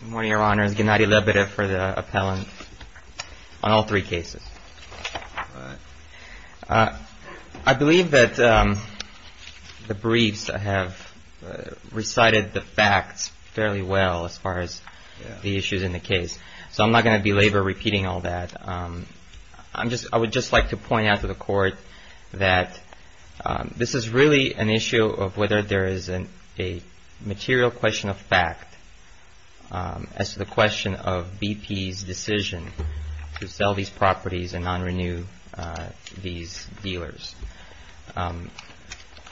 Good morning, Your Honors. Gennady Lebedev for the appellant on all three cases. I believe that the briefs have recited the facts fairly well as far as the issues in the case, so I'm not going to belabor repeating all that. I would just like to point out to that this is really an issue of whether there is a material question of fact as to the question of BP's decision to sell these properties and non-renew these dealers.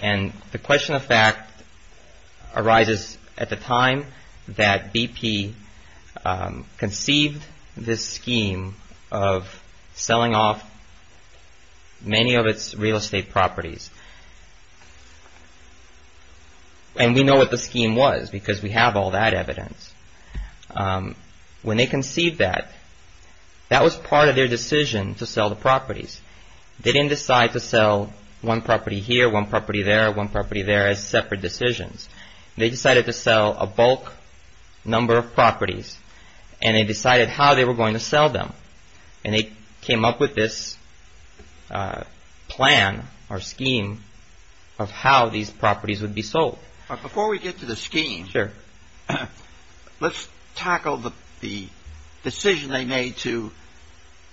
And the question of fact arises at the time that BP conceived this scheme of selling off many of its real estate properties. And we know what the scheme was because we have all that evidence. When they conceived that, that was part of their decision to sell the properties. They didn't decide to sell one property here, one property there, one property there as separate decisions. They decided to sell a bulk number of properties and they decided how they were going to sell them. And they came up with this plan or scheme of how these properties would be sold. But before we get to the scheme, let's tackle the decision they made to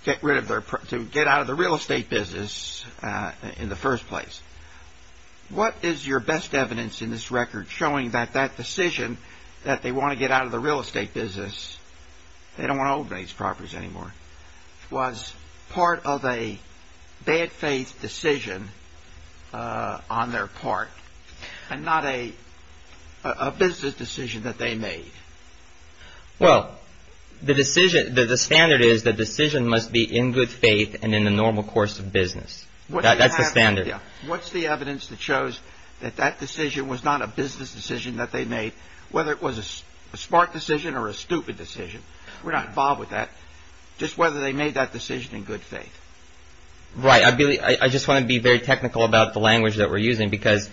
get out of the real estate business in the first place. What is your best evidence in this record showing that that decision that they want to get out of the real estate business, they don't want to own these properties anymore, was part of a bad faith decision on their part and not a business decision that they made? Well, the decision, the standard is the decision must be in good faith and in the normal course of business. That's the standard. What's the evidence that shows that that decision was not a business decision that they made, whether it was a smart decision or a stupid decision? We're not involved with that. Just whether they made that decision in good faith. Right. I just want to be very technical about the language that we're using because,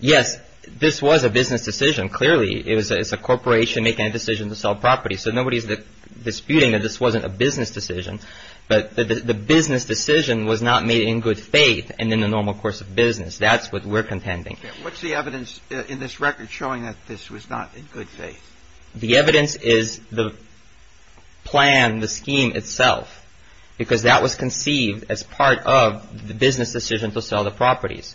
yes, this was a business decision. Clearly, it's a corporation making a decision to sell properties. So nobody's disputing that this wasn't a business decision. But the business decision was not made in good faith and in the normal course of business. That's what we're contending. What's the evidence in this record showing that this was not in good faith? The evidence is the plan, the scheme itself, because that was conceived as part of the business decision to sell the properties.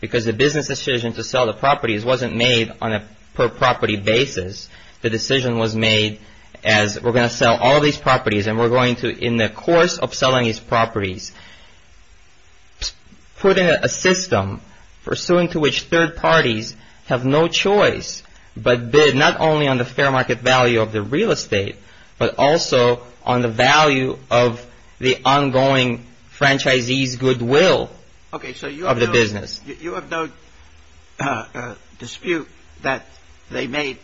Because the business decision to sell the properties wasn't made on a per property basis. The decision was made as we're going to sell all these properties and we're going to, in the course of selling these properties, put in a system pursuant to which third parties have no choice but bid not only on the fair market value of the real estate, but also on the value of the ongoing franchisees' goodwill of the business. You have no dispute that they made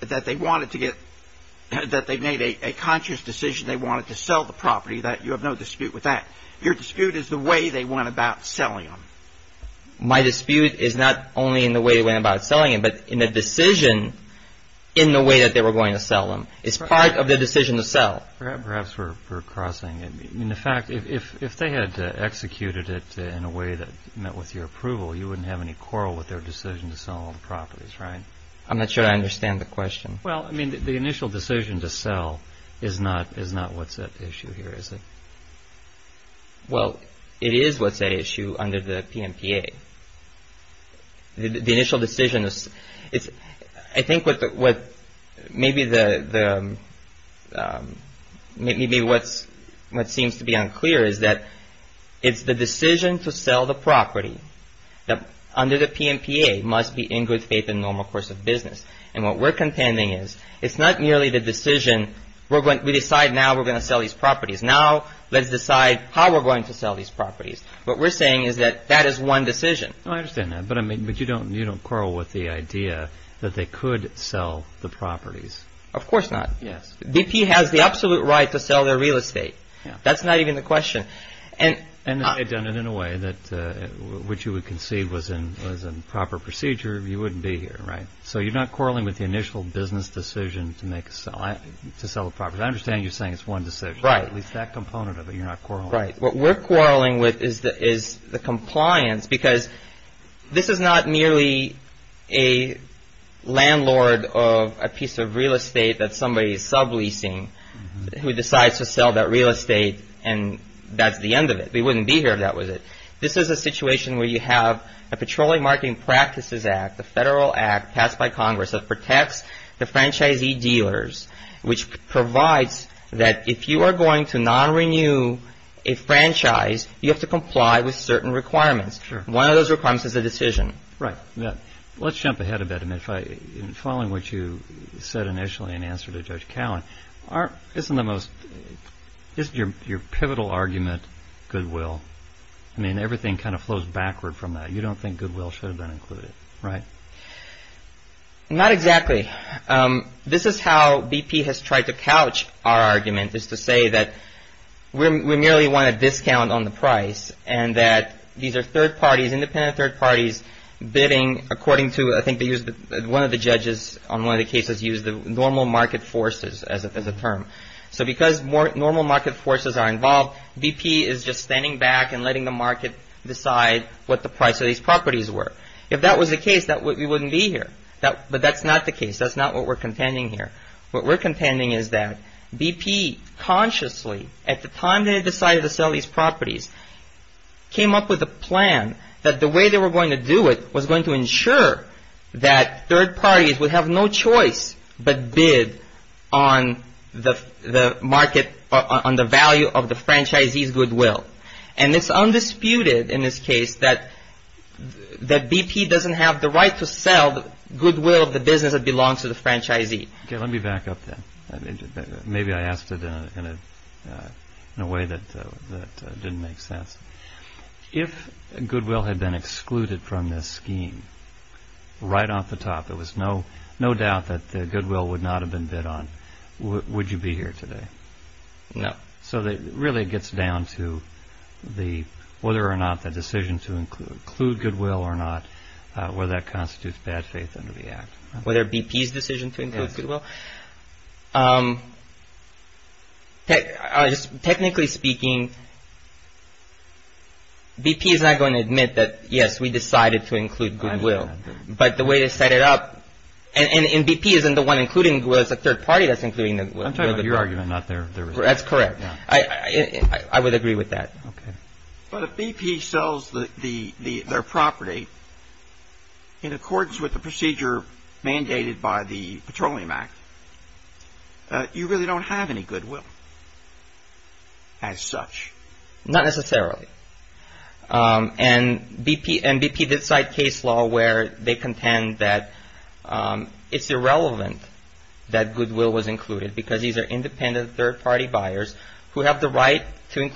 a conscious decision they wanted to sell the property, that you have no dispute with that. Your dispute is the way they went about selling them. My dispute is not only in the way they went about selling them, but in the decision in the way that they were going to sell them. It's part of the decision to sell. Perhaps we're crossing. In fact, if they had executed it in a way that met with your approval, you wouldn't have any quarrel with their decision to sell all the properties, right? I'm not sure I understand the question. Well, I mean, the initial decision to sell is not what's at issue here, is it? Well, it is what's at issue under the PMPA. The initial decision, I think what maybe the what's what seems to be unclear is that it's the decision to sell the property that under the PMPA must be in good faith in normal course of business. And what we're contending is it's not merely the decision. We're going to decide now we're going to sell these properties. Now let's decide how we're going to sell these properties. What we're saying is that that is one decision. I understand that, but I mean, but you don't you don't quarrel with the idea that they could sell the properties. Of course not. Yes. BP has the absolute right to sell their real estate. That's not even the question. And I've done it in a way that which you would concede was in was in proper procedure. You wouldn't be here. Right. So you're not quarreling with the initial business decision to make a sign to sell the property. I understand you're saying it's one to say right. It's that component of it. You're not quite right. What we're quarreling with is that is the compliance because this is not merely a landlord of a piece of real estate that somebody is subleasing who decides to sell that real estate. And that's the end of it. We wouldn't be here if that was it. This is a situation where you have a Petroleum Marketing Practices Act, the federal act passed by Congress that protects the franchisee dealers, which provides that if you are going to not renew a franchise, you have to comply with certain requirements. One of those requirements is a decision. Right. Yeah. Let's jump ahead a bit. And if I following what you said initially in answer to Judge Cowan, aren't isn't the most is your your pivotal argument. Goodwill. I mean, everything kind of flows backward from that. You don't think goodwill should have been included. Right. Not exactly. This is how BP has tried to couch our argument is to say that we merely want a discount on the price and that these are third parties, independent third parties bidding according to I think they use one of the judges on one of the cases use the normal market forces as a term. So because more normal market forces are involved, BP is just standing back and letting the market decide what the price of these properties were. If that was the case, that we wouldn't be here. But that's not the case. That's not what we're contending here. What we're contending is that BP consciously at the time they decided to sell these properties came up with a plan that the way they were going to do it was going to ensure that third parties would have no choice but bid on the market, on the value of the franchisees goodwill. And it's undisputed in this case that that BP doesn't have the right to sell the goodwill of the business that belongs to the franchisee. Let me back up then. Maybe I asked it in a way that didn't make sense. If goodwill had been excluded from this scheme, right off the top, there was no doubt that the goodwill would not have been bid on. Would you be here today? No. So really it gets down to whether or not the decision to include goodwill or not, whether that constitutes bad faith under the Act. Whether BP's decision to include goodwill. Technically speaking, BP is not going to admit that, yes, we decided to include goodwill. But the way they set it up, and BP isn't the one including goodwill, it's a third party that's including the goodwill. I'm talking about your argument, not their. That's correct. I would agree with that. But if BP sells their property in accordance with the procedure mandated by the Petroleum Act, you really don't have any goodwill as such. Not necessarily. And BP did cite case law where they contend that it's irrelevant that goodwill was included because these are independent third party buyers who have the right to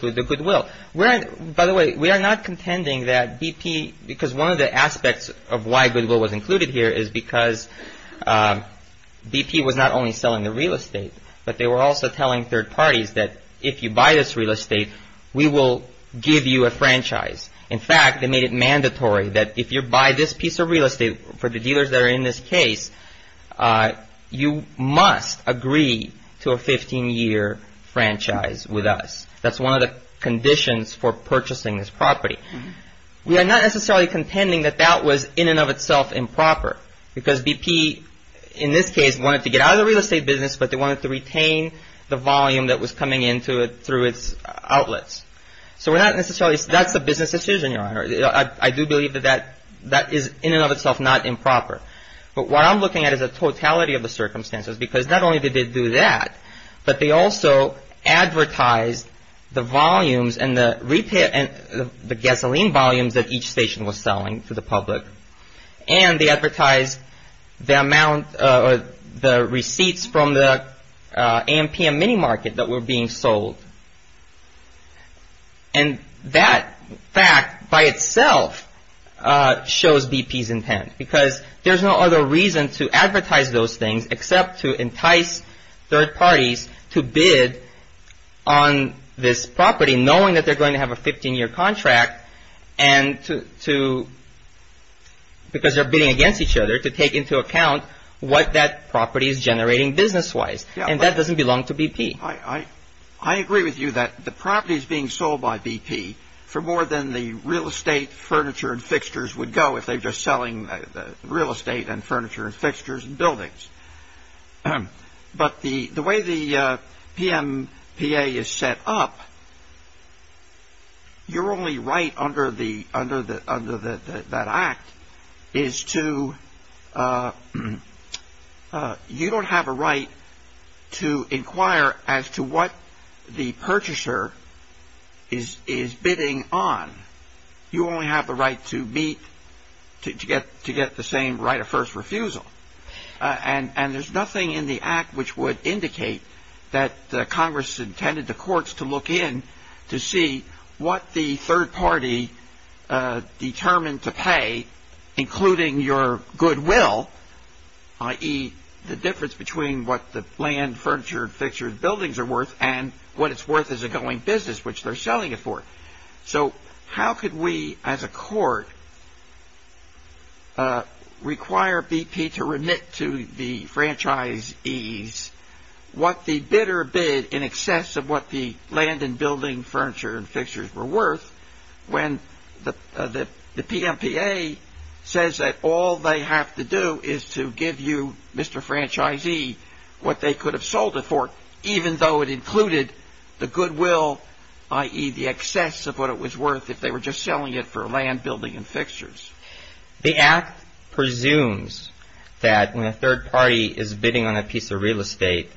By the way, we are not contending that BP, because one of the aspects of why goodwill was included here is because BP was not only selling the real estate, but they were also telling third parties that if you buy this real estate, we will give you a franchise. In fact, they made it mandatory that if you buy this piece of real estate for the dealers that are in this case, you must agree to a 15 year franchise with us. That's one of the conditions for purchasing this property. We are not necessarily contending that that was in and of itself improper because BP in this case wanted to get out of the real estate business, but they wanted to retain the volume that was coming into it through its outlets. So we're not necessarily that's a business decision. Your Honor, I do believe that that that is in and of itself not improper. But what I'm looking at is a totality of the circumstances, because not only did they do that, but they also advertised the volumes and the gasoline volumes that each station was selling to the public. And they advertised the amount of the receipts from the AMPM mini market that were being sold. And that fact by itself shows BP's intent, because there's no other reason to third parties to bid on this property, knowing that they're going to have a 15 year contract and to. Because they're bidding against each other to take into account what that property is generating business wise, and that doesn't belong to BP. I, I agree with you that the property is being sold by BP for more than the real estate furniture and fixtures would go if they're just selling real estate and furniture and fixtures and buildings. But the the way the PMPA is set up, you're only right under the under the under the that that act is to you don't have a right to inquire as to what the purchaser is is bidding on. You only have the right to meet to get to get the same right of first refusal. And there's nothing in the act which would indicate that Congress intended the courts to look in to see what the third party determined to pay, including your goodwill, i.e., the difference between what the land furniture and fixtures buildings are worth and what it's worth as a going business, which they're selling it for. So how could we, as a court, require BP to remit to the franchisees what the bidder bid in excess of what the land and building furniture and fixtures were worth when the PMPA says that all they have to do is to give you, Mr. Franchisee, what they could have sold it for, even though it included the goodwill, i.e., the excess of what it was worth if they were just selling it for land, building and fixtures. The act presumes that when a third party is bidding on a piece of real estate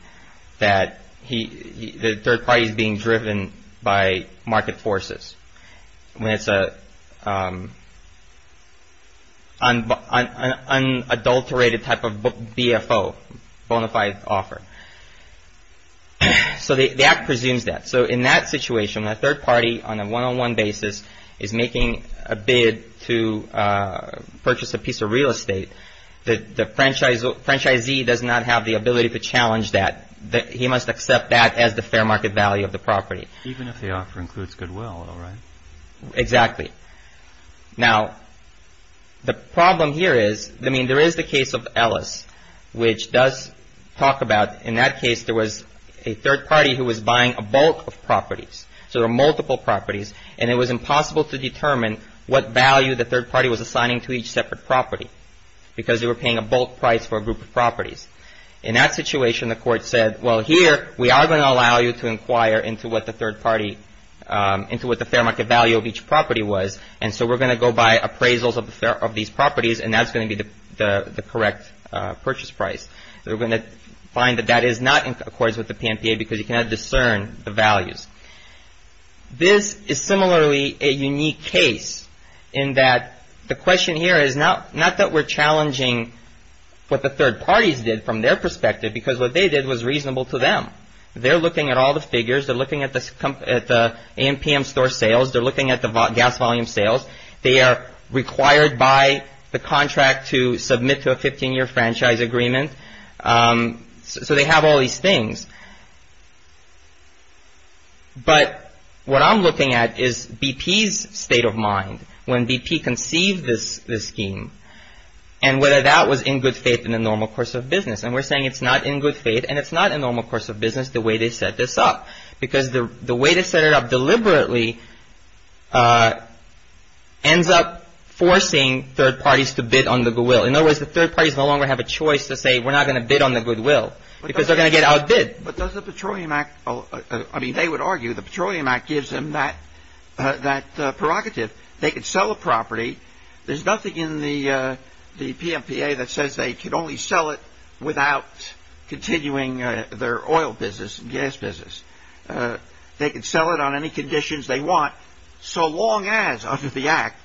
that the third party is being driven by market forces when it's an unadulterated type of BFO, bona fide offer. So the act presumes that. So in that situation, when a third party on a one-on-one basis is making a bid to purchase a piece of real estate, the franchisee does not have the ability to challenge that. He must accept that as the fair market value of the property. Even if the offer includes goodwill, all right. Exactly. Now, the problem here is, I mean, there is the case of Ellis, which does talk about, in that case, there was a third party who was buying a bulk of properties. So there are multiple properties. And it was impossible to determine what value the third party was assigning to each separate property because they were paying a bulk price for a group of properties. In that situation, the court said, well, here we are going to allow you to inquire into what the third party, into what the fair market value of each property was. And so we're going to go by appraisals of these properties. And that's going to be the correct purchase price. They're going to find that that is not in accordance with the PMPA because you cannot discern the values. This is similarly a unique case in that the question here is not that we're challenging what the third parties did from their perspective, because what they did was reasonable to them. They're looking at all the figures. They're looking at the AMPM store sales. They're looking at the gas volume sales. They are required by the contract to submit to a 15-year franchise agreement. So they have all these things. But what I'm looking at is BP's state of mind when BP conceived this scheme and whether that was in good faith in the normal course of business. And we're saying it's not in good faith and it's not a normal course of business the way they set this up, because the way they set it up deliberately ends up forcing third parties to bid on the will. In other words, the third parties no longer have a choice to say we're not going to bid on the goodwill because they're going to get outbid. But does the Petroleum Act, I mean, they would argue the Petroleum Act gives them that prerogative. They could sell a property. There's nothing in the PMPA that says they could only sell it without continuing their oil business and gas business. They could sell it on any conditions they want so long as under the act,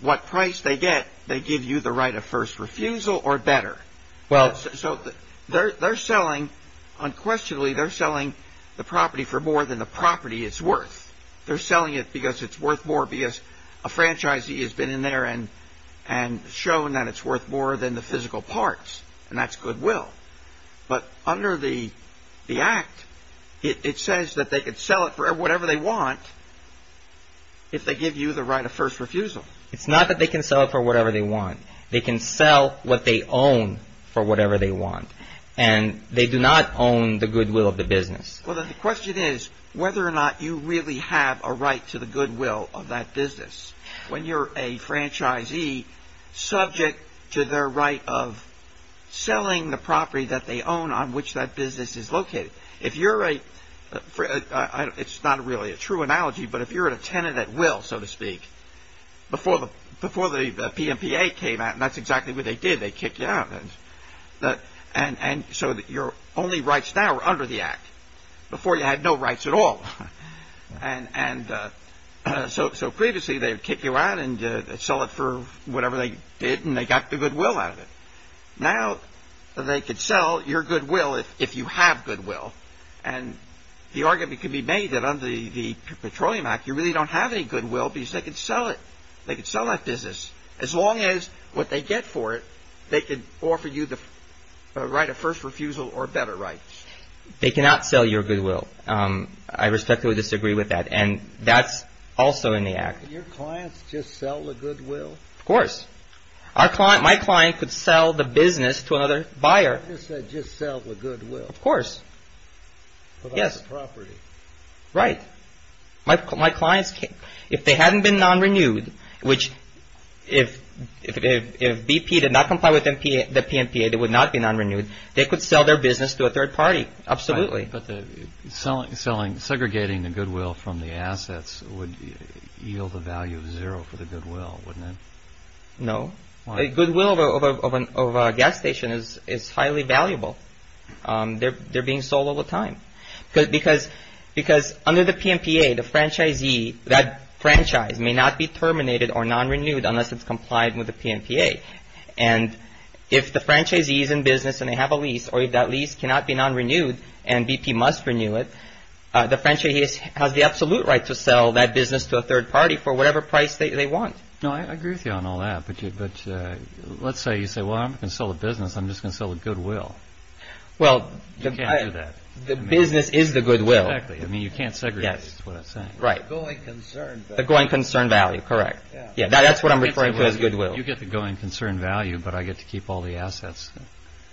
what price they get, they give you the right of first refusal or better. Well, so they're selling unquestionably, they're selling the property for more than the property is worth. They're selling it because it's worth more because a franchisee has been in there and shown that it's worth more than the physical parts. And that's goodwill. But under the act, it says that they could sell it for whatever they want. If they give you the right of first refusal, it's not that they can sell it for whatever they want. They can sell what they own for whatever they want. And they do not own the goodwill of the business. Well, the question is whether or not you really have a right to the goodwill of that business when you're a franchisee subject to their right of selling the property that they own on which that business is located. If you're right. It's not really a true analogy, but if you're a tenant at will, so to say, the PNPA came out and that's exactly what they did. They kicked you out. And so your only rights now are under the act before you had no rights at all. And so previously they would kick you out and sell it for whatever they did. And they got the goodwill out of it. Now they could sell your goodwill if you have goodwill. And the argument could be made that under the Petroleum Act, you really don't have any goodwill because they could sell it. They could sell that business as long as what they get for it. They could offer you the right of first refusal or better rights. They cannot sell your goodwill. I respectfully disagree with that. And that's also in the act. Your clients just sell the goodwill. Of course, our client, my client could sell the business to another buyer. You said just sell the goodwill. Of course. Yes. Property. Right. My clients, if they hadn't been non-renewed, which if BP did not comply with the PNPA, they would not be non-renewed. They could sell their business to a third party. Absolutely. But the selling, segregating the goodwill from the assets would yield the value of zero for the goodwill, wouldn't it? No. The goodwill of a gas station is highly valuable. They're being sold all the time because under the PNPA, the franchisee, that franchise may not be terminated or non-renewed unless it's complied with the PNPA. And if the franchisee is in business and they have a lease or if that lease cannot be non-renewed and BP must renew it, the franchisee has the absolute right to sell that business to a third party for whatever price they want. No, I agree with you on all that. But let's say you say, well, I'm going to sell the business. I'm just going to sell the goodwill. Well, the business is the goodwill. I mean, you can't segregate, that's what I'm saying. Right. The going concern value. The going concern value, correct. Yeah, that's what I'm referring to as goodwill. You get the going concern value, but I get to keep all the assets.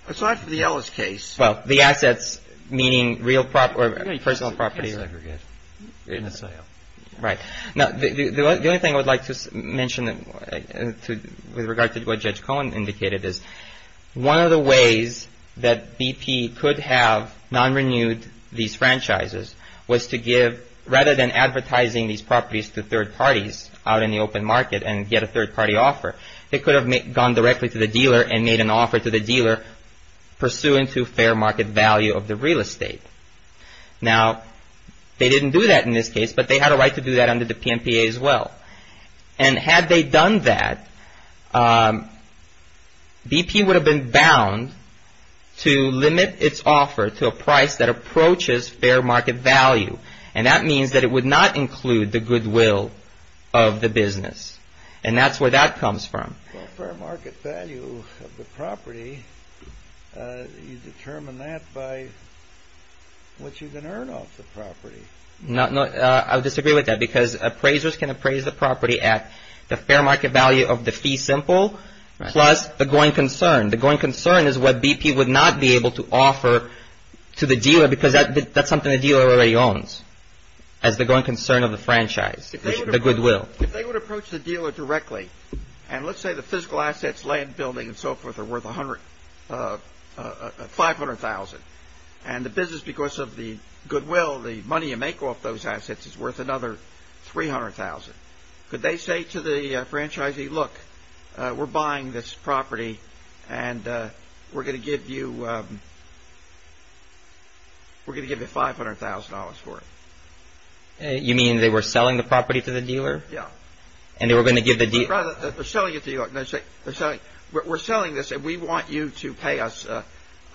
Aside from the Ellis case. Well, the assets meaning real property or personal property. You can't segregate. You're in the sale. Right. Now, the only thing I would like to mention with regard to what Judge Cohen indicated is one of the ways that BP could have non-renewed these franchises was to give, rather than advertising these properties to third parties out in the open market and get a third party offer, they could have gone directly to the dealer and made an offer to the dealer pursuant to fair market value of the real estate. Now, they didn't do that in this case, but they had a right to do that under the BP would have been bound to limit its offer to a price that approaches fair market value. And that means that it would not include the goodwill of the business. And that's where that comes from. Well, fair market value of the property, you determine that by what you can earn off the property. No, I disagree with that because appraisers can appraise the property at the fair market value of the fee simple plus the growing concern. The growing concern is what BP would not be able to offer to the dealer because that's something the dealer already owns as the growing concern of the franchise, the goodwill. If they would approach the dealer directly and let's say the physical assets, land building and so forth are worth $500,000 and the business, because of the goodwill, the money you make off those assets is worth another $300,000. Could they say to the franchisee, look, we're buying this property and we're going to give you. We're going to give you $500,000 for it. You mean they were selling the property to the dealer? Yeah. And they were going to give the deal. They're selling it to you. We're selling this and we want you to pay us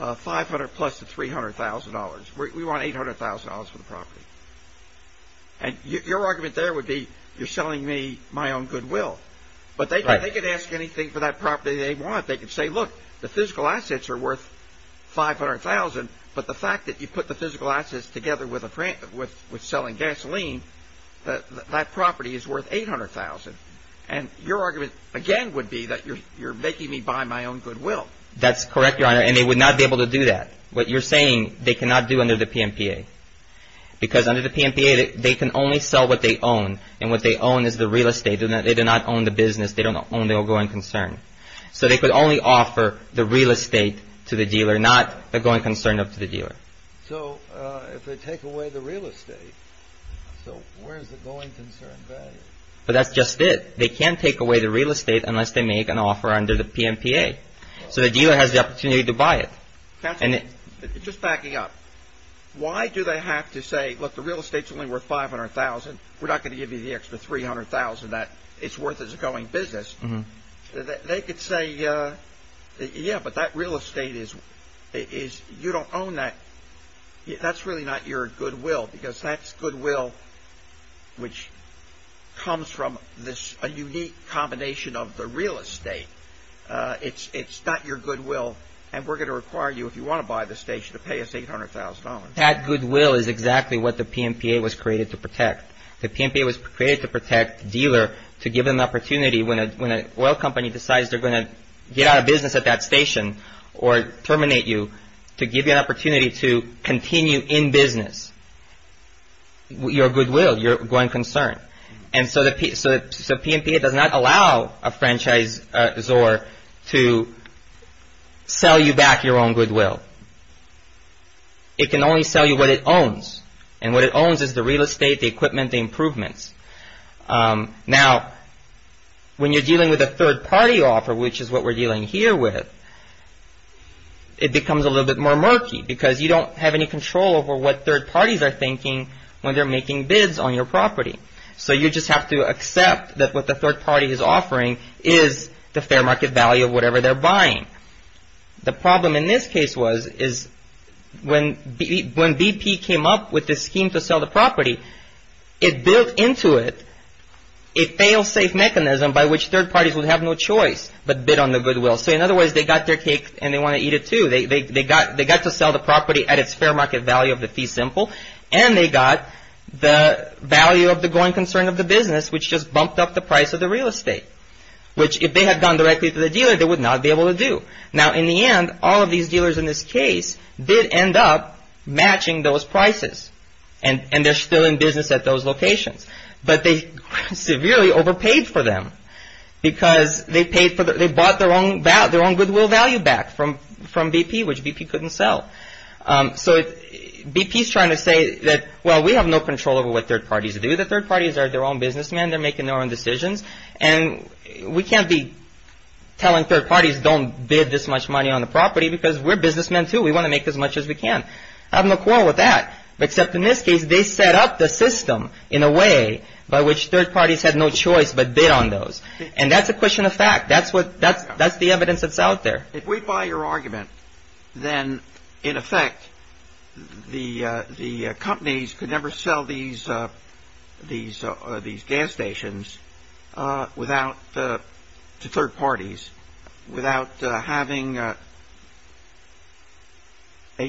$500,000 plus the $300,000. We want $800,000 for the property. And your argument there would be you're selling me my own goodwill, but they could ask anything for that property they want. They could say, look, the physical assets are worth $500,000. But the fact that you put the physical assets together with a with with selling gasoline, that property is worth $800,000. And your argument again would be that you're making me buy my own goodwill. That's correct, Your Honor. And they would not be able to do that. What you're saying, they cannot do under the PMPA because under the PMPA, they can only sell what they own and what they own is the real estate. They do not own the business. They don't own the ongoing concern. So they could only offer the real estate to the dealer, not the going concern up to the dealer. So if they take away the real estate, so where's the going concern? But that's just it. They can't take away the real estate unless they make an offer under the PMPA. So the dealer has the opportunity to buy it. And just backing up, why do they have to say, look, the real estate's only worth $500,000. We're not going to give you the extra $300,000 that it's worth as a going business. They could say, yeah, but that real estate is is you don't own that. That's really not your goodwill, because that's goodwill. Which comes from this a unique combination of the real estate, it's it's not your goodwill. And we're going to require you if you want to buy the station to pay us $800,000. That goodwill is exactly what the PMPA was created to protect. The PMPA was created to protect the dealer, to give them the opportunity when an oil company decides they're going to get out of business at that station or terminate you, to give you an opportunity to continue in business. Your goodwill, your going concern. And so the PMPA does not allow a franchisor to sell you back your own goodwill. It can only sell you what it owns and what it owns is the real estate, the equipment, the improvements. Now, when you're dealing with a third party offer, which is what we're dealing here with, it becomes a little bit more murky because you don't have any control over what third parties are thinking when they're making bids on your property. So you just have to accept that what the third party is offering is the fair market value of whatever they're buying. The problem in this case was is when BP came up with this scheme to sell the property, it built into it a fail safe mechanism by which third parties would have no choice but bid on the goodwill. So in other words, they got their cake and they want to eat it, too. They got they got to sell the property at its fair market value of the fee simple and they got the value of the growing concern of the business, which just bumped up the price of the real estate, which if they had gone directly to the dealer, they would not be able to do. Now, in the end, all of these dealers in this case did end up matching those prices and they're still in business at those locations. But they severely overpaid for them because they paid for they bought their own their own goodwill value back from from BP, which BP couldn't sell. So BP is trying to say that, well, we have no control over what third parties do. The third parties are their own businessmen. They're making their own decisions. And we can't be telling third parties don't bid this much money on the property because we're businessmen, too. We want to make as much as we can. I have no quarrel with that, except in this case, they set up the system in a way by which third parties had no choice but bid on those. And that's a question of fact. That's what that's that's the evidence that's out there. If we buy your argument, then, in effect, the the companies could never sell these these these gas stations without the third parties, without having a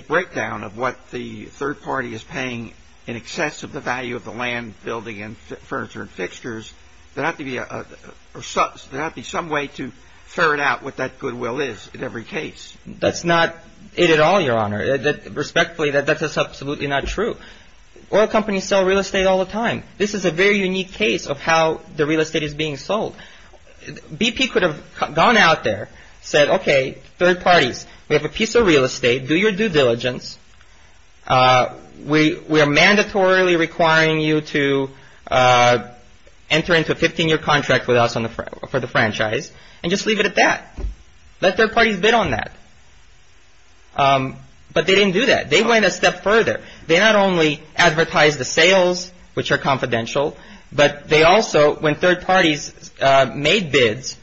breakdown of what the third party is paying in excess of the value of the land, building and furniture and fixtures. There have to be some way to ferret out what that goodwill is in every case. That's not it at all, Your Honor. Respectfully, that's absolutely not true. Oil companies sell real estate all the time. This is a very unique case of how the real estate is being sold. BP could have gone out there, said, OK, third parties, we have a piece of real estate. Do your due diligence. We are mandatorily requiring you to enter into a 15 year contract with us on the for the franchise and just leave it at that. Let third parties bid on that. But they didn't do that. They went a step further. They not only advertise the sales, which are confidential, but they also, when third parties made bids,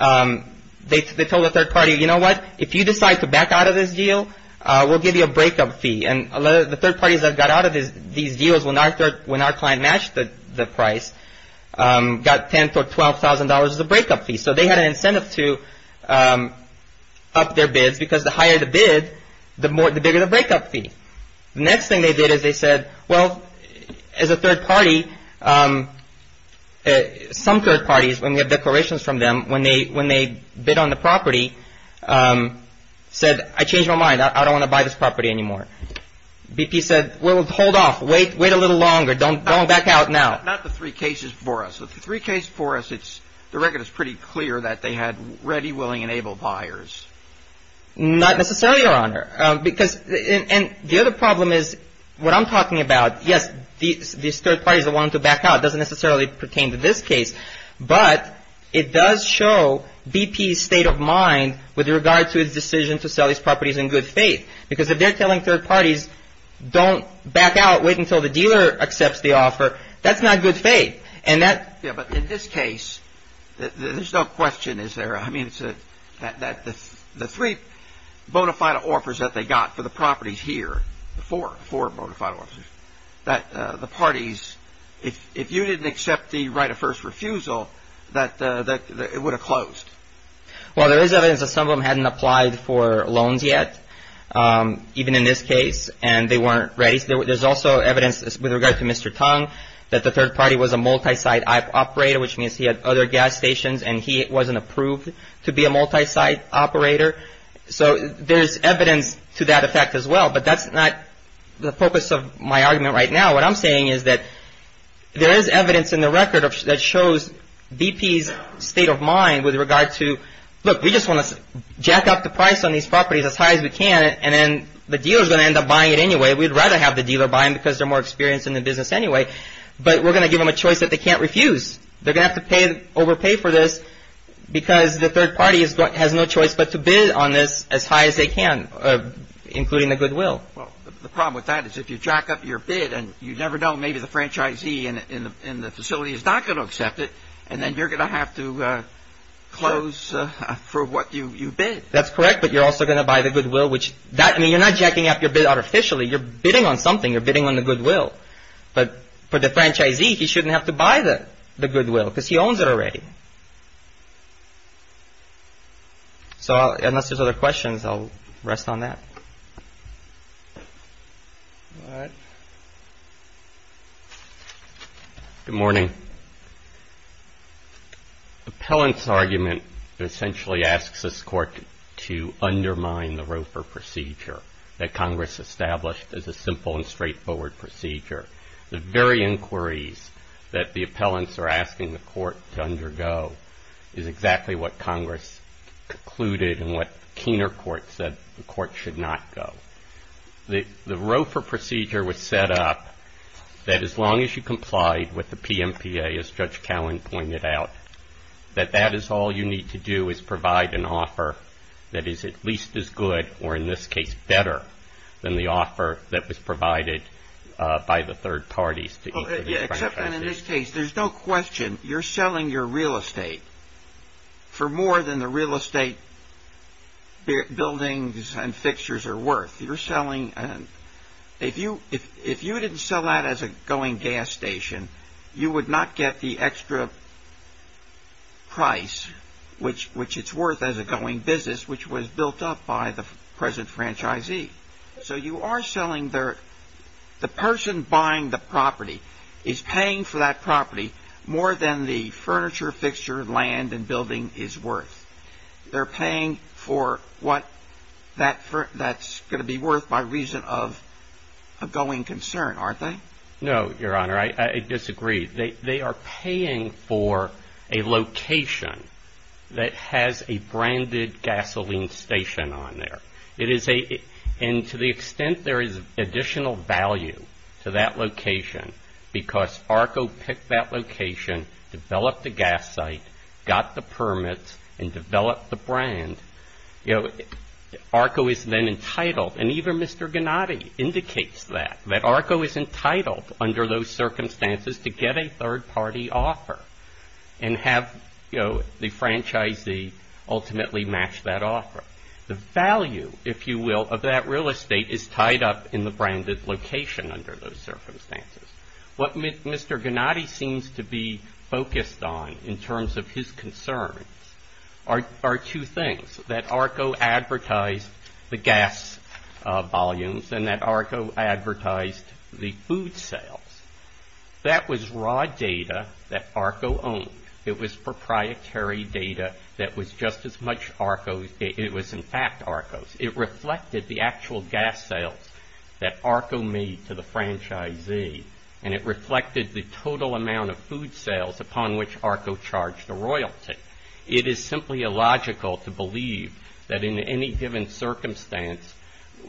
they told the third party, you know what, if you decide to back out of this deal, we'll give you a breakup fee. And the third parties that got out of these deals, when our client matched the price, got $10,000 or $12,000 as a breakup fee. So they had an incentive to up their bids because the higher the bid, the bigger the breakup fee. Next thing they did is they said, well, as a third party, some third parties when we have declarations from them, when they when they bid on the property, said, I changed my mind. I don't want to buy this property anymore. BP said, well, hold off. Wait, wait a little longer. Don't don't back out now. Not the three cases for us. With the three case for us, it's the record is pretty clear that they had ready, willing and able buyers. Not necessarily, Your Honor, because and the other problem is what I'm talking about. Yes, these third parties that want to back out doesn't necessarily pertain to this case. But it does show BP's state of mind with regard to its decision to sell these properties in good faith, because if they're telling third parties, don't back out. Wait until the dealer accepts the offer. That's not good faith. And that. Yeah. But in this case, there's no question, is there? I mean, it's that the three bona fide offers that they got for the properties here, the four bona fide offers, that the parties, if you didn't accept the right of first refusal, that it would have closed. Well, there is evidence that some of them hadn't applied for loans yet, even in this case, and they weren't ready. There's also evidence with regard to Mr. Tong, that the third party was a multi-site operator, which means he had other gas stations and he wasn't approved to be a multi-site operator. So there's evidence to that effect as well. But that's not the purpose of my argument right now. What I'm saying is that there is evidence in the record that shows BP's state of mind with regard to, look, we just want to jack up the price on these properties as high as we can. And then the dealer is going to end up buying it anyway. We'd rather have the dealer buy them because they're more experienced in the business anyway. But we're going to give them a choice that they can't refuse. They're going to have to pay overpay for this because the third party has no choice but to bid on this as high as they can, including the goodwill. Well, the problem with that is if you jack up your bid and you never know, maybe the franchisee in the facility is not going to accept it. And then you're going to have to close for what you bid. That's correct. But you're also going to buy the goodwill, which I mean, you're not jacking up your bid artificially. You're bidding on something. You're bidding on the goodwill. But for the franchisee, he shouldn't have to buy the goodwill because he owns it already. So unless there's other questions, I'll rest on that. Good morning. Appellant's argument essentially asks this court to undermine the ROFR procedure that Congress established as a simple and straightforward procedure. The very inquiries that the appellants are asking the court to undergo is exactly what Congress concluded and what Keener Court said the court should not go. The ROFR procedure was set up that as long as you complied with the PMPA, as Judge Cowen pointed out, that that is all you need to do is provide an offer that is at least as good, or in this case better, than the offer that was provided by the third parties to each of the franchisees. Except in this case, there's no question you're selling your real estate for more than the real estate buildings and fixtures are worth. You're selling. If you didn't sell that as a going gas station, you would not get the by the present franchisee. So you are selling there. The person buying the property is paying for that property more than the furniture, fixture, land and building is worth. They're paying for what that that's going to be worth by reason of a going concern, aren't they? No, Your Honor, I disagree. They are paying for a location that has a branded gasoline station on there. It is a and to the extent there is additional value to that location because ARCO picked that location, developed the gas site, got the permits and developed the brand. You know, ARCO is then entitled and even Mr. Gennady is entitled under those circumstances to get a third party offer and have, you know, the franchisee ultimately match that offer. The value, if you will, of that real estate is tied up in the branded location under those circumstances. What Mr. Gennady seems to be focused on in terms of his concern are two things that ARCO advertised the gas volumes and that ARCO advertised the food sales. That was raw data that ARCO owned. It was proprietary data that was just as much ARCO. It was in fact ARCO's. It reflected the actual gas sales that ARCO made to the franchisee and it reflected the total amount of food sales upon which ARCO charged the royalty. It is simply illogical to believe that in any given circumstance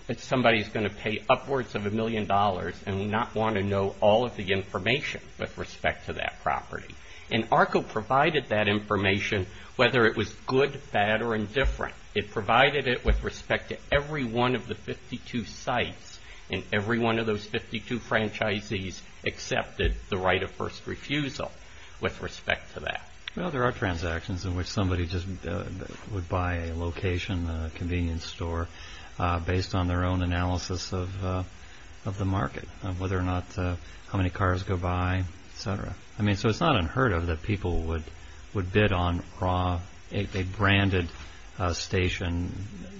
that somebody is going to pay upwards of a million dollars and not want to know all of the information with respect to that property. And ARCO provided that information whether it was good, bad or indifferent. It provided it with respect to every one of the 52 sites and every one of those 52 franchisees accepted the right of first refusal with respect to that. Well, there are transactions in which somebody just would buy a location, a convenience store based on their own analysis of the market, whether or not how many cars go by, etc. I mean, so it's not unheard of that people would bid on a branded station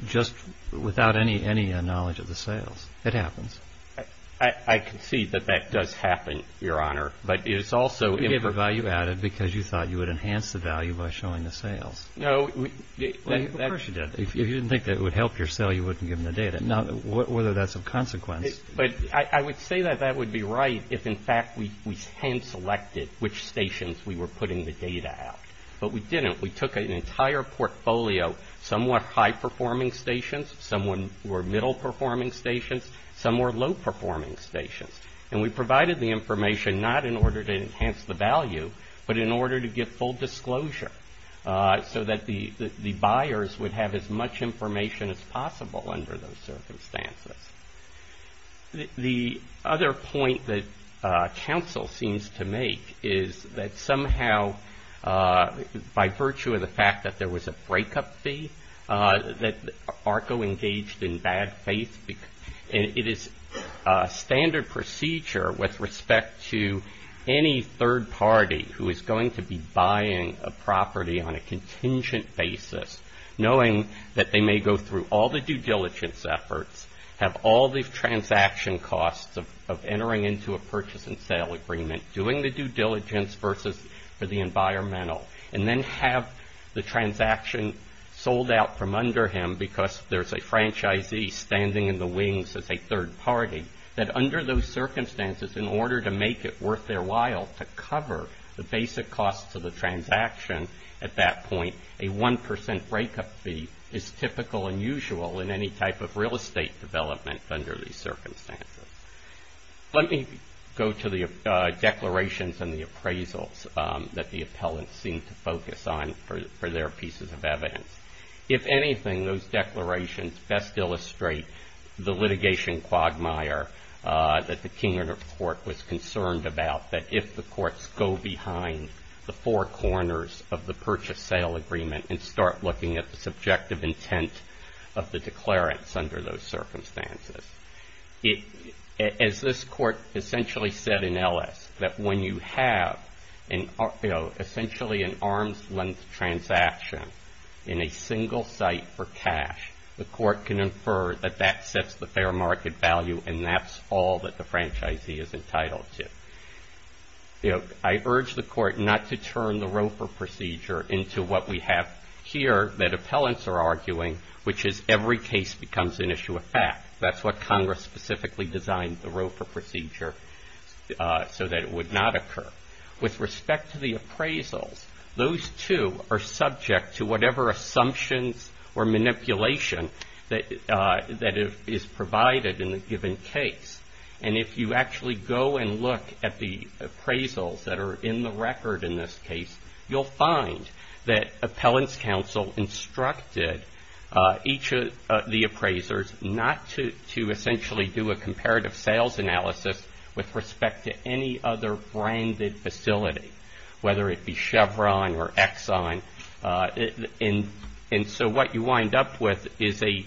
just without any knowledge of the sales. It happens. I concede that that does happen, Your Honor. But it's also... You gave the value added because you thought you would enhance the value by showing the sales. No, of course you did. If you didn't think that it would help your sale, you wouldn't give them the data. Now, whether that's a consequence... But I would say that that would be right if, in fact, we hand-selected which stations we were putting the data out. But we didn't. We took an entire portfolio. Some were high-performing stations, some were middle-performing stations, some were low-performing stations. And we provided the information not in order to enhance the value, but in order to get full disclosure so that the buyers would have as much information as possible under those circumstances. The other point that counsel seems to make is that somehow, by virtue of the fact that there was a breakup fee, that ARCO engaged in bad faith. It is standard procedure with respect to any third party who is going to be buying a property on a contingent basis, knowing that they may go through all the due diligence efforts, have all the transaction costs of entering into a purchase and sale agreement, doing the due diligence versus for the environmental, and then have the transaction sold out from under him because there's a franchisee standing in the wings as a third party, that under those circumstances, in order to make it worth their while to cover the basic costs of the transaction at that point, a 1 percent breakup fee is typical and usual in any type of real estate development under these circumstances. Let me go to the declarations and the appraisals that the appellants seem to focus on for their pieces of evidence. If anything, those declarations best illustrate the litigation quagmire that the Kingdom Court was concerned about, that if the courts go behind the four corners of the purchase sale agreement and start looking at the subjective intent of the declarants under those circumstances, as this court essentially said in Ellis, that when you have essentially an arm's length transaction in a single site for cash, the court can infer that that sets the fair market value and that's all that the franchisee is entitled to. I urge the court not to turn the ROFR procedure into what we have here that appellants are arguing, which is every case becomes an issue of fact. That's what Congress specifically designed the ROFR procedure so that it would not occur. With respect to the appraisals, those two are subject to whatever assumptions or manipulation that is provided in the given case. And if you actually go and look at the appraisals that are in the record in this case, you'll find that appellants counsel instructed each of the appraisers not to essentially do a comparative sales analysis with respect to any other branded facility, whether it be Chevron or Exxon. And so what you wind up with is a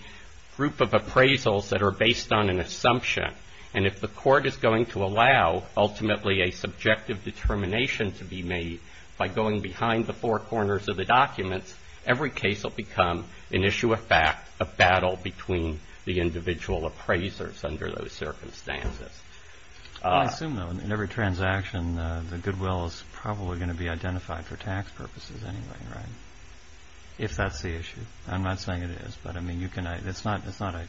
group of appraisals that are based on an assumption. And if the court is going to allow ultimately a subjective determination to be made by going behind the four corners of the documents, every case will become an issue of fact, a battle between the individual appraisers under those circumstances. I assume, though, in every transaction, the goodwill is probably going to be identified for tax purposes anyway, right? If that's the issue. I'm not saying it is, but I mean, you can it's not it's not a.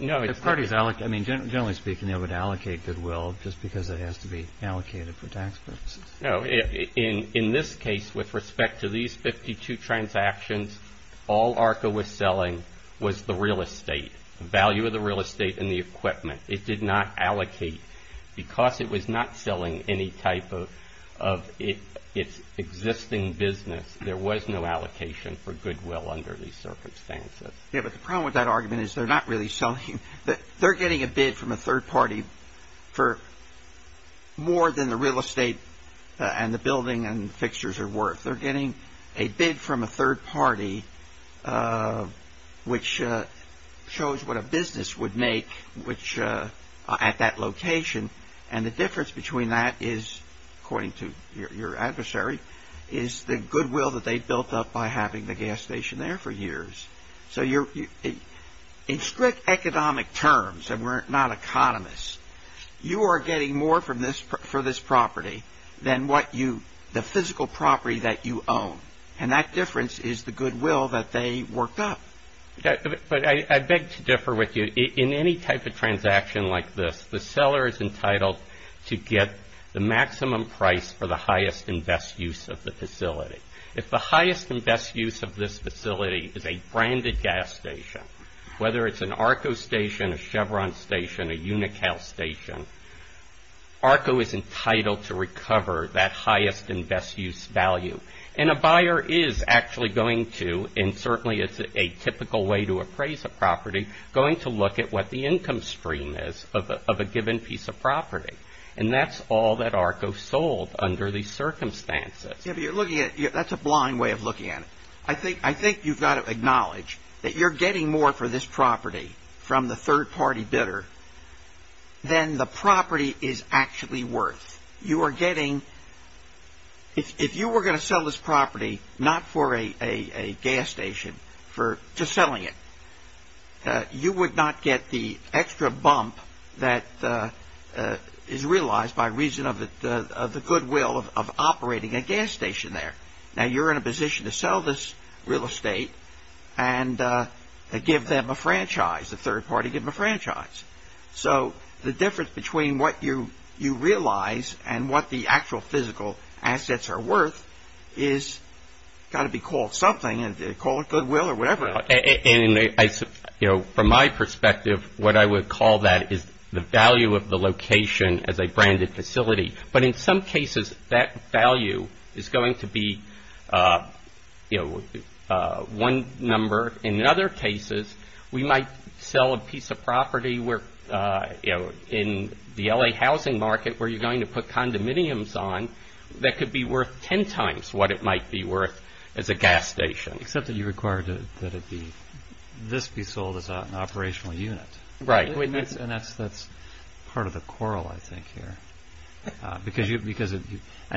No, it's parties. I mean, generally speaking, they would allocate goodwill just because it has to be allocated for tax purposes. No. In this case, with respect to these 52 transactions, all ARCA was selling was the real estate value of the real estate and the equipment it did not allocate because it was not selling any type of of its existing business. There was no allocation for goodwill under these circumstances. Yeah, but the problem with that argument is they're not really selling that they're getting a bid from a third party for more than the real estate and the building and fixtures are worth. They're getting a bid from a third party, which shows what a business would make, which at that location and the difference between that is, according to your adversary, is the goodwill that they built up by having the gas station there for years. So you're in strict economic terms and we're not economists. You are getting more from this for this property than what you the physical property that you own. And that difference is the goodwill that they worked up. But I beg to differ with you in any type of transaction like this. The seller is entitled to get the maximum price for the highest and best use of the facility. If the highest and best use of this facility is a branded gas station, whether it's an Arco station, a Chevron station, a Unocal station, Arco is entitled to recover that highest and best use value. And a buyer is actually going to and certainly it's a typical way to appraise a property, going to look at what the income stream is of a given piece of property. And that's all that Arco sold under these circumstances. If you're looking at it, that's a blind way of looking at it. I think I think you've got to acknowledge that you're getting more for this property from the third party bidder than the property is actually worth. You are getting. If you were going to sell this property, not for a gas station, for just selling it, you would not get the extra bump that is realized by reason of the goodwill of operating a gas station there. Now, you're in a position to sell this real estate and give them a franchise, a third party, give them a franchise. So the difference between what you you realize and what the actual physical assets are worth is got to be called something and call it goodwill or whatever. And, you know, from my perspective, what I would call that is the value of the location as a branded facility. But in some cases, that value is going to be, you know, one number. In other cases, we might sell a piece of property where, you know, in the L.A. housing market where you're going to put condominiums on that could be worth 10 times what it might be worth as a gas station. Except that you require that it be this be sold as an operational unit. Right. And that's that's part of the quarrel, I think, here, because you because and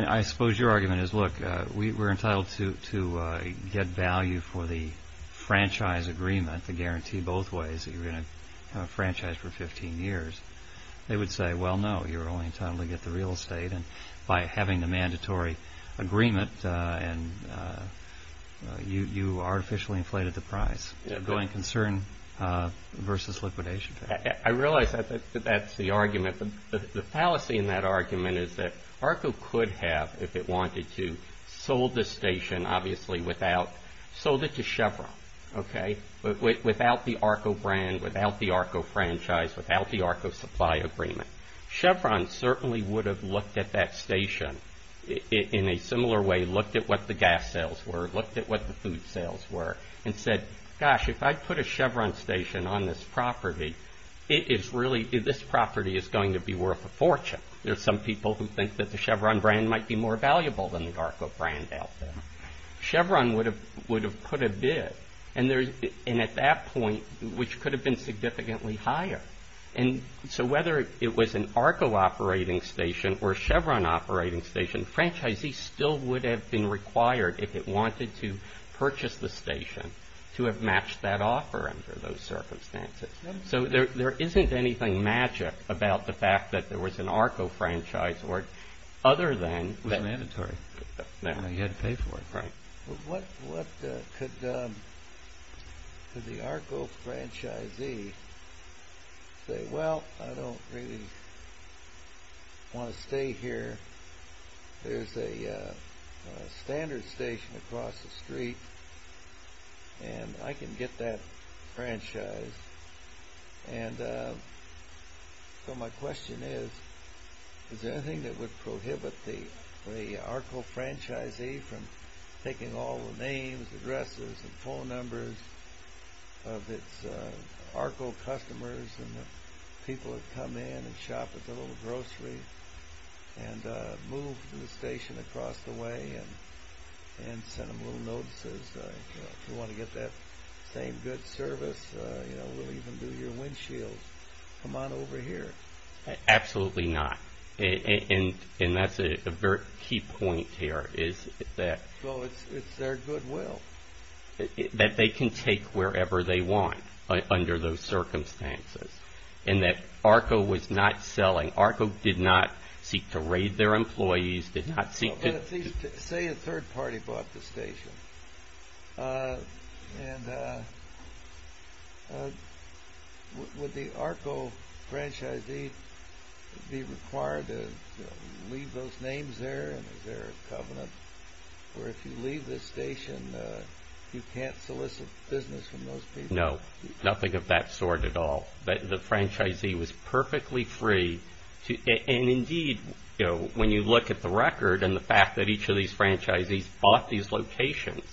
I suppose your argument is, look, we were entitled to to get value for the franchise agreement, the guarantee both ways that you're going to have a franchise for 15 years. They would say, well, no, you're only entitled to get the real estate. And by having the mandatory agreement and you artificially inflated the price of going concern versus liquidation. I realize that that's the argument. The fallacy in that argument is that ARCO could have, if it wanted to, sold the station obviously without sold it to Chevron, OK, without the ARCO brand, without the ARCO franchise, without the ARCO supply agreement, Chevron certainly would have looked at that station in a similar way, looked at what the gas sales were, looked at what the food was. If you put a Chevron station on this property, it is really this property is going to be worth a fortune. There's some people who think that the Chevron brand might be more valuable than the ARCO brand out there. Chevron would have would have put a bid. And at that point, which could have been significantly higher. And so whether it was an ARCO operating station or Chevron operating station, franchisees still would have been required if it wanted to purchase the station to have that offer under those circumstances. So there isn't anything magic about the fact that there was an ARCO franchise or other than mandatory. Now you had to pay for it, right? But what could the ARCO franchisee say? Well, I don't really want to stay here. There's a standard station across the street. And I can get that franchise. And so my question is, is there anything that would prohibit the ARCO franchisee from taking all the names, addresses and phone numbers of its ARCO customers and the people that come in and shop at the little grocery and move to the station across the way and send them little notices. If you want to get that same good service, we'll even do your windshield. Come on over here. Absolutely not. And that's a very key point here is that it's their goodwill that they can take wherever they want under those circumstances and that ARCO was not selling. ARCO did not seek to raid their employees. Say a third party bought the station and would the ARCO franchisee be required to leave those names there? Is there a covenant where if you leave the station, you can't solicit business from those people? No. Nothing of that sort at all. The franchisee was perfectly free to, and indeed, you know, when you look at the record and the fact that each of these franchisees bought these locations,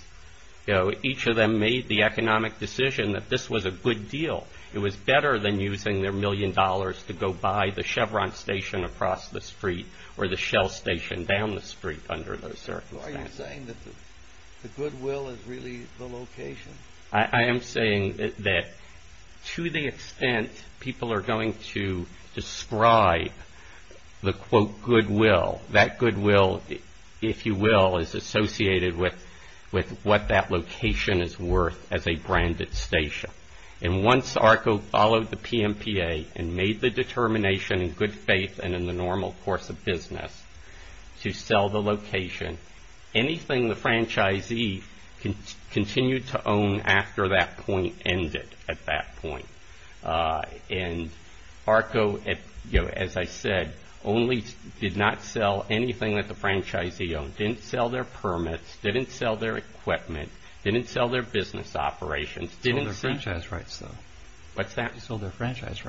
you know, each of them made the economic decision that this was a good deal. It was better than using their million dollars to go buy the Chevron station across the street or the Shell station down the street under those circumstances. Are you saying that the goodwill is really the location? I am saying that to the extent people are going to describe the quote goodwill, that goodwill, if you will, is associated with what that location is worth as a branded station. And once ARCO followed the PMPA and made the determination in good faith and in the normal course of business to sell the location, anything the franchisee continued to own after that point ended at that point, and ARCO, as I said, only did not sell anything that the franchisee owned, didn't sell their permits, didn't sell their equipment, didn't sell their business operations, didn't sell their franchise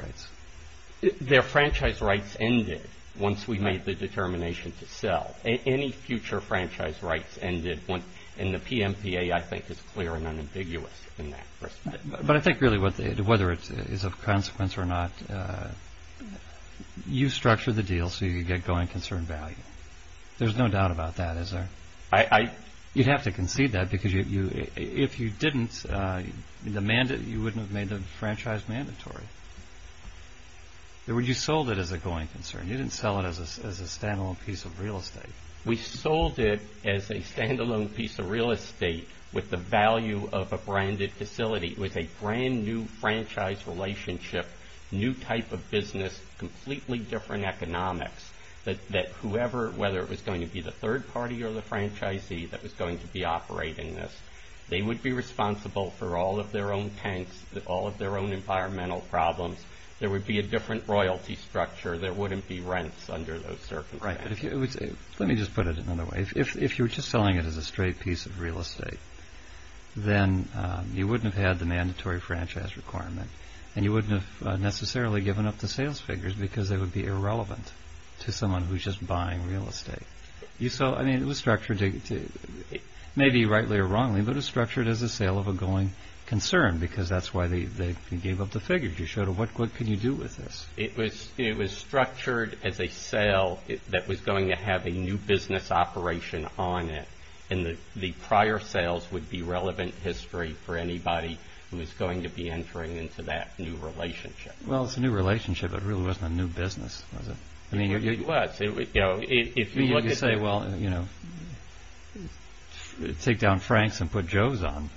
rights, ended. Once we made the determination to sell, any future franchise rights ended. And the PMPA, I think, is clear and unambiguous in that respect. But I think really whether it is of consequence or not, you structure the deal so you get going concern value. There's no doubt about that, is there? You'd have to concede that because if you didn't, you wouldn't have made the franchise mandatory. You sold it as a going concern. You didn't sell it as a standalone piece of real estate. We sold it as a standalone piece of real estate with the value of a branded facility, with a brand new franchise relationship, new type of business, completely different economics that whoever, whether it was going to be the third party or the franchisee that was going to be operating this, they would be responsible for all of their own tanks, all of their own environmental problems. There would be a different royalty structure. There wouldn't be rents under those circumstances. Right. Let me just put it another way. If you're just selling it as a straight piece of real estate, then you wouldn't have had the mandatory franchise requirement and you wouldn't have necessarily given up the sales figures because they would be irrelevant to someone who's just buying real estate. You saw, I mean, it was structured, maybe rightly or wrongly, but it was structured as a sale of a going concern because that's why they gave up the figures. You showed them, what can you do with this? It was structured as a sale that was going to have a new business operation on it. And the prior sales would be relevant history for anybody who was going to be entering into that new relationship. Well, it's a new relationship. It really wasn't a new business, was it? I mean, it was. You could say, well, take down Frank's and put Joe's on.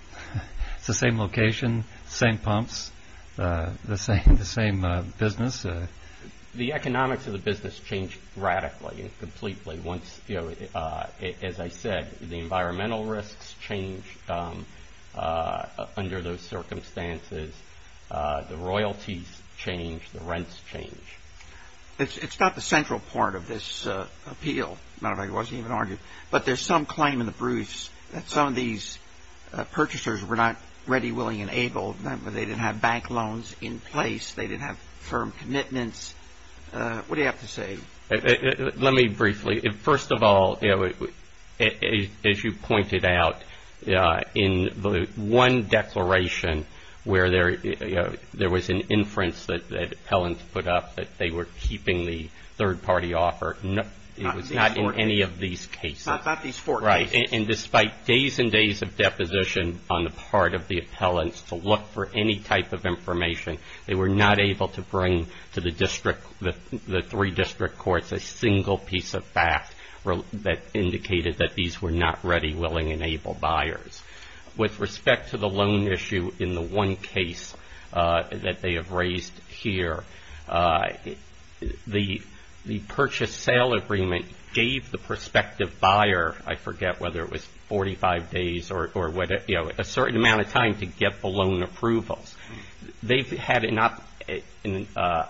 It's the same location, same pumps, the same business. The economics of the business changed radically and completely once, as I said, the environmental risks change under those circumstances. The royalties change. The rents change. It's not the central part of this appeal. Matter of fact, it wasn't even argued. But there's some claim in the Bruce that some of these purchasers were not ready, willing and able. They didn't have bank loans in place. They didn't have firm commitments. What do you have to say? Let me briefly. First of all, as you pointed out in the one declaration where there was an inference that the appellants put up that they were keeping the third party offer, it was not in any of these cases. Not these four cases. Right. And despite days and days of deposition on the part of the appellants to look for any type of information, they were not able to bring to the district, the three district courts a single piece of fact that indicated that these were not ready, willing and able buyers. With respect to the loan issue in the one case that they have raised here, the purchase sale agreement gave the prospective buyer, I forget whether it was 45 days or a certain amount of time to get the loan approvals. They've had an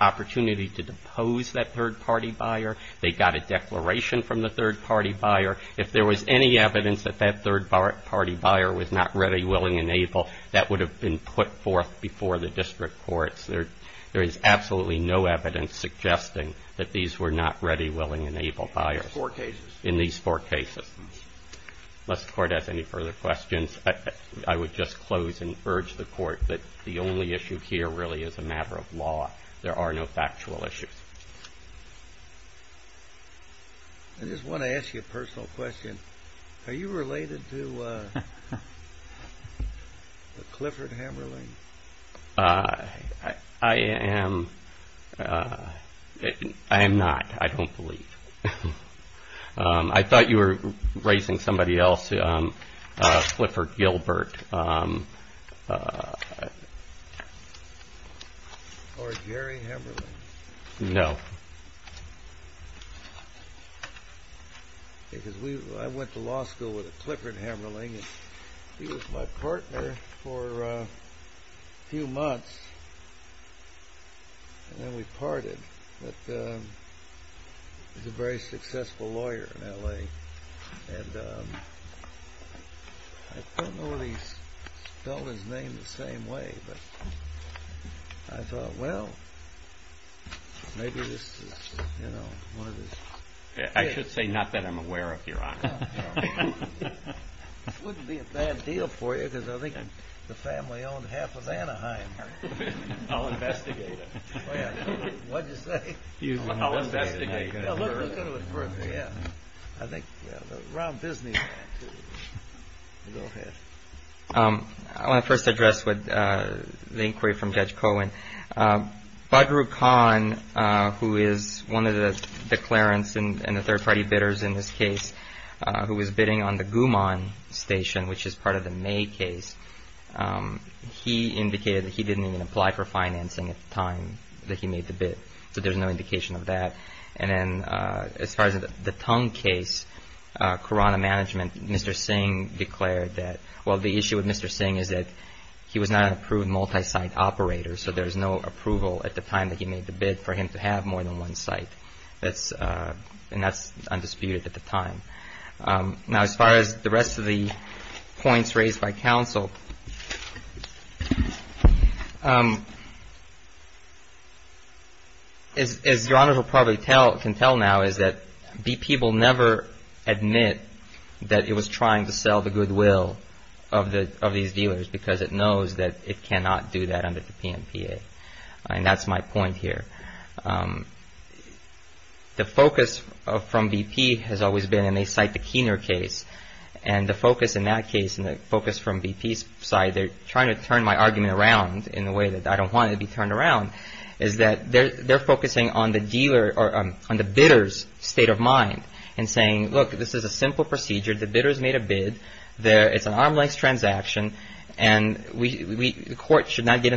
opportunity to depose that third party buyer. They got a declaration from the third party buyer. If there was any evidence that that third party buyer was not ready, willing and able, that would have been put forth before the district courts. There is absolutely no evidence suggesting that these were not ready, willing and able buyers in these four cases. Unless the court has any further questions, I would just close and urge the court that the only issue here really is a matter of law. There are no factual issues. I just want to ask you a personal question. Are you related to Clifford Hammerling? I am. I am not. I don't believe. I thought you were raising somebody else, Clifford Gilbert. Or Gary Hammerling? No. Because I went to law school with a Clifford Hammerling. He was my partner for a few months. And then we parted. But he was a very successful lawyer in L.A. And I don't know if he's spelled his name the same way, but I thought, well, maybe this is, you know, one of his... I should say, not that I'm aware of, Your Honor. This wouldn't be a bad deal for you, because I think the family owned half of Anaheim. I'll investigate it. What did you say? I'll investigate it. Yeah, let's go to it first. I think, yeah, Ron Bisney. I want to first address the inquiry from Judge Cohen. Badru Khan, who is one of the declarants and the third party bidders in this case, who was bidding on the Guman Station, which is part of the May case, he indicated that he didn't even apply for financing at the time that he made the bid. So there's no indication of that. And then as far as the Tung case, Corona Management, Mr. Singh declared that, well, the issue with Mr. Singh is that he was not an approved multi-site operator. So there is no approval at the time that he made the bid for him to have more than one site. And that's undisputed at the time. Now, as far as the rest of the points raised by counsel. As you probably can tell now is that BP will never admit that it was trying to sell the goodwill of these dealers because it knows that it cannot do that under the PNPA. And that's my point here. The focus from BP has always been, and they cite the Keener case, and the focus in that case and the focus from BP's side, they're trying to turn my argument around in a way that I don't want to be turned around, is that they're focusing on the dealer or on the bidder's state of mind and saying, look, this is a simple procedure. The bidder's made a bid, it's an arm's length transaction, and the court should not get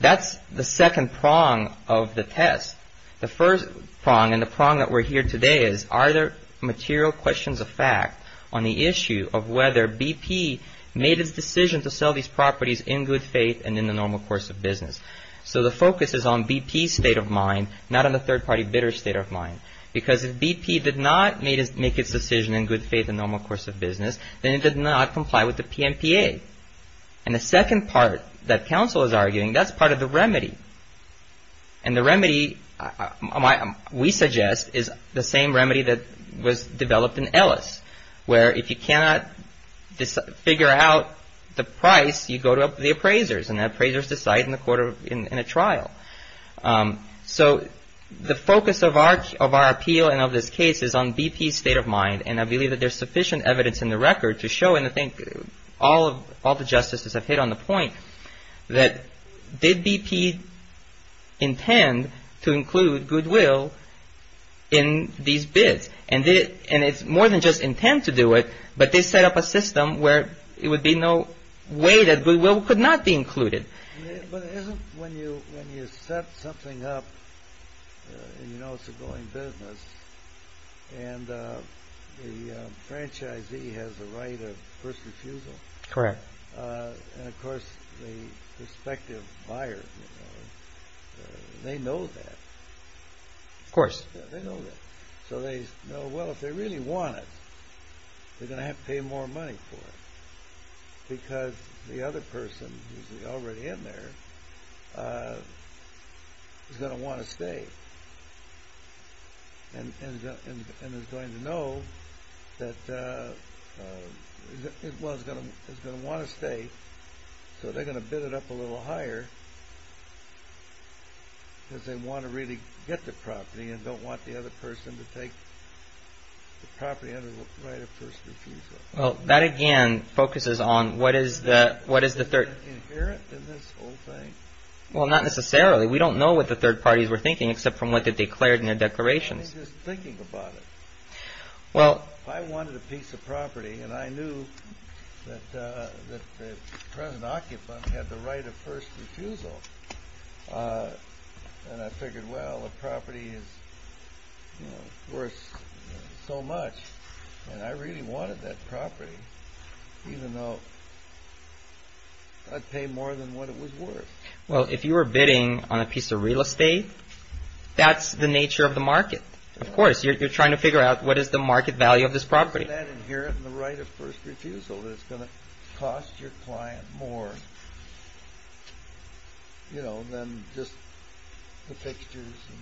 That's the second prong of the test. The first prong and the prong that we're here today is, are there material questions of fact on the issue of whether BP made its decision to sell these properties in good faith and in the normal course of business? So the focus is on BP's state of mind, not on the third party bidder's state of mind, because if BP did not make its decision in good faith and normal course of business, then it did not comply with the PMPA. And the second part that counsel is arguing, that's part of the remedy. And the remedy, we suggest, is the same remedy that was developed in Ellis, where if you cannot figure out the price, you go to the appraisers, and the appraisers decide in a trial. So the focus of our appeal and of this case is on BP's state of mind, and I believe that there's sufficient evidence in the record to show, and I think all the justices have hit on the point, that did BP intend to include Goodwill in these bids? And it's more than just intend to do it, but they set up a system where it would be no way that Goodwill could not be included. But isn't when you set something up and you know it's a going business, and the franchisee has the right of first refusal, and of course, the prospective buyer, they know that. Of course. They know that. So they know, well, if they really want it, they're going to have to pay more money for it, because the other person who's already in there is going to want to stay, and is going to know that, well, is going to want to stay, so they're going to bid it up a little higher, because they want to really get the property and don't want the other person to take the property under the right of first refusal. Well, that, again, focuses on what is the, what is the third? Is that inherent in this whole thing? Well, not necessarily. We don't know what the third parties were thinking, except from what they declared in their declarations. I mean, just thinking about it. Well. I wanted a piece of property, and I knew that the present occupant had the right of first refusal. And I figured, well, a property is, you know, worth so much. And I really wanted that property, even though I'd pay more than what it was worth. Well, if you were bidding on a piece of real estate, that's the nature of the market. Of course, you're trying to figure out what is the market value of this property. Isn't that inherent in the right of first refusal, that it's going to cost your client more, you know, than just the fixtures and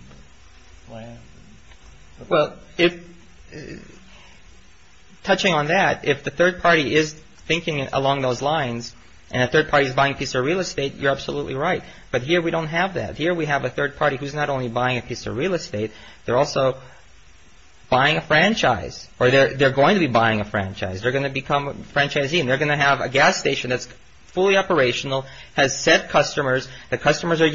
the land? Well, if touching on that, if the third party is thinking along those lines and a third party is buying a piece of real estate, you're absolutely right. But here we don't have that. Here we have a third party who's not only buying a piece of real estate. They're also buying a franchise or they're going to be buying a franchise. They're going to become a franchisee and they're going to have a gas station that's fully operational, has set customers. The customers are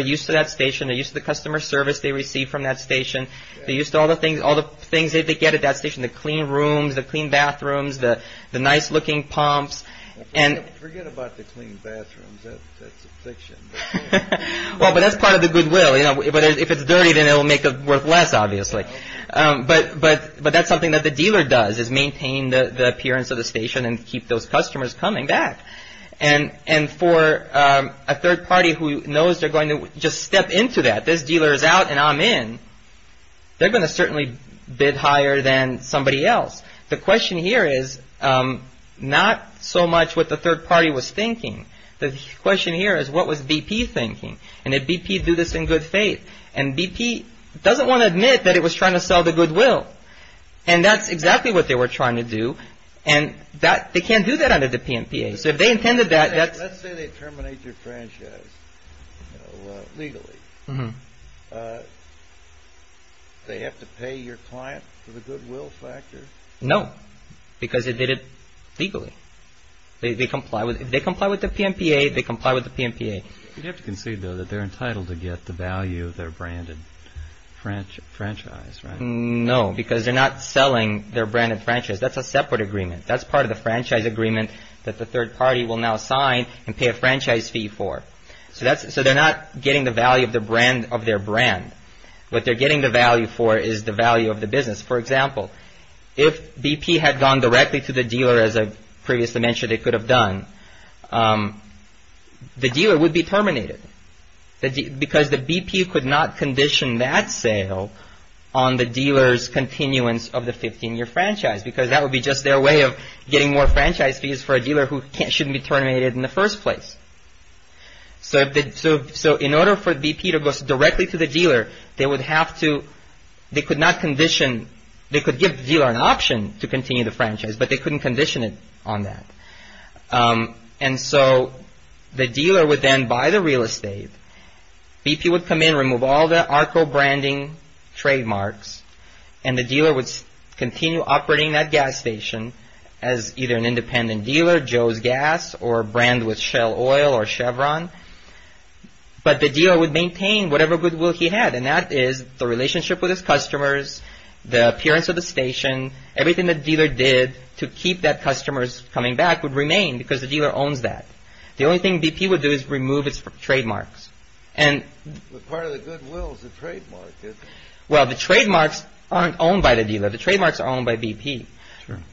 used to that station. They're used to the customer service they receive from that station. They're used to all the things, all the things that they get at that station, the clean rooms, the clean bathrooms, the nice looking pumps. And forget about the clean bathrooms, that's a fiction. Well, but that's part of the goodwill. But if it's dirty, then it'll make it worth less, obviously. But that's something that the dealer does, is maintain the appearance of the station and keep those customers coming back. And for a third party who knows they're going to just step into that, this dealer is out and I'm in, they're going to certainly bid higher than somebody else. The question here is not so much what the third party was thinking. The question here is, what was BP thinking? And did BP do this in good faith? And BP doesn't want to admit that it was trying to sell the goodwill. And that's exactly what they were trying to do. And they can't do that under the PMPA. So if they intended that, that's. Let's say they terminate your franchise legally. They have to pay your client for the goodwill factor? No, because they did it legally. They comply with the PMPA, they comply with the PMPA. You have to concede, though, that they're entitled to get the value of their branded franchise, right? No, because they're not selling their branded franchise. That's a separate agreement. That's part of the franchise agreement that the third party will now sign and pay a franchise fee for. So that's so they're not getting the value of the brand of their brand. What they're getting the value for is the value of the business. For example, if BP had gone directly to the dealer, as I previously mentioned, they could have done. The dealer would be terminated because the BP could not condition that sale on the dealer's continuance of the 15-year franchise, because that would be just their way of getting more franchise fees for a dealer who shouldn't be terminated in the first place. So in order for BP to go directly to the dealer, they would have to. They could not condition. They could give the dealer an option to continue the franchise, but they couldn't condition it on that. And so the dealer would then buy the real estate. BP would come in, remove all the ARCO branding trademarks, and the dealer would continue operating that gas station as either an independent dealer, Joe's Gas, or a brand with Shell Oil or Chevron. But the dealer would maintain whatever goodwill he had, and that is the relationship with his customers, the appearance of the station. Everything the dealer did to keep that customers coming back would remain because the dealer owns that. The only thing BP would do is remove its trademarks. And part of the goodwill is the trademark. Well, the trademarks aren't owned by the dealer. The trademarks are owned by BP.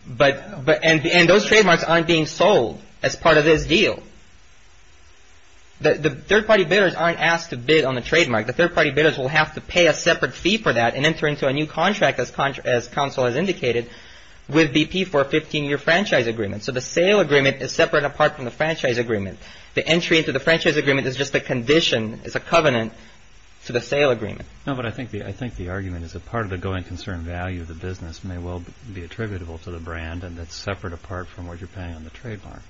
But and those trademarks aren't being sold as part of this deal. The third-party bidders aren't asked to bid on the trademark. The third-party bidders will have to pay a separate fee for that and enter into a new contract, as counsel has indicated, with BP for a 15-year franchise agreement. So the sale agreement is separate, apart from the franchise agreement. The entry into the franchise agreement is just a condition, it's a covenant to the sale agreement. No, but I think the argument is that part of the going concern value of the business may well be attributable to the brand, and that's separate apart from what you're paying on the trademark.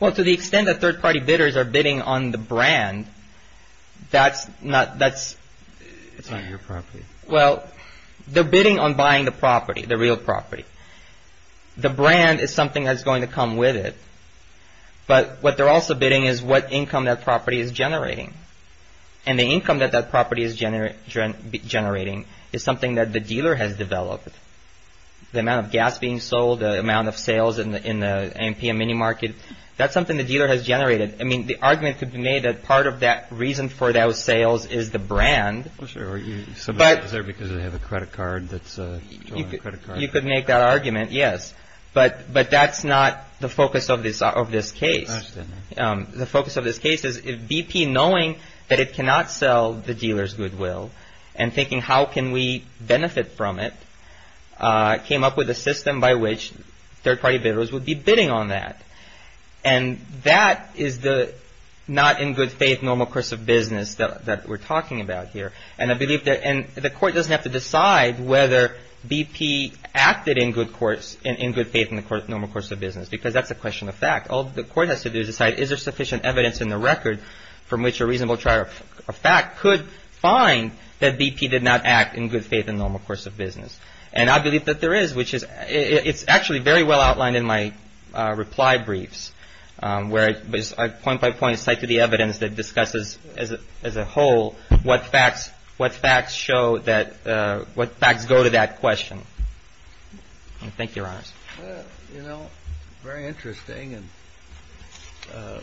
Well, to the extent that third-party bidders are bidding on the brand, that's not, that's... It's not your property. Well, they're bidding on buying the property, the real property. The brand is something that's going to come with it. But what they're also bidding is what income that property is generating. And the income that that property is generating is something that the dealer has developed. The amount of gas being sold, the amount of sales in the A&P and mini-market, that's something the dealer has generated. I mean, the argument could be made that part of that reason for those sales is the brand. I'm sure, but is there because they have a credit card that's... You could make that argument, yes. But that's not the focus of this case. The focus of this case is BP knowing that it cannot sell the dealer's goodwill and thinking how can we benefit from it, came up with a system by which third-party bidders would be bidding on that. And that is the not-in-good-faith normal course of business that we're talking about here. And I believe that the court doesn't have to decide whether BP acted in good faith in the normal course of business because that's a question of fact. All the court has to do is decide is there sufficient evidence in the record from which a reasonable trial of fact could find that BP did not act in good faith in the normal course of business. And I believe that there is, which is it's actually very well outlined in my reply briefs where I point by point cite to the evidence that discusses as a whole what facts show that, what facts go to that question. Thank you, Your Honors. You know, very interesting. And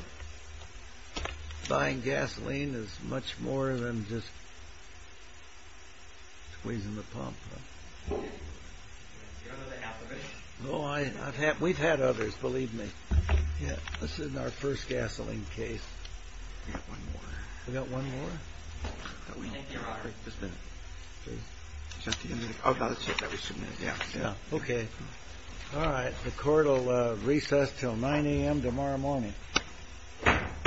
buying gasoline is much more than just squeezing the pump. Oh, I've had, we've had others, believe me. Yeah, this is our first gasoline case. We got one more? Thank you, Your Honor. Just a minute, please. Oh, that's it, that was two minutes, yeah, yeah. Okay. All right. The court will recess till 9 a.m. tomorrow morning.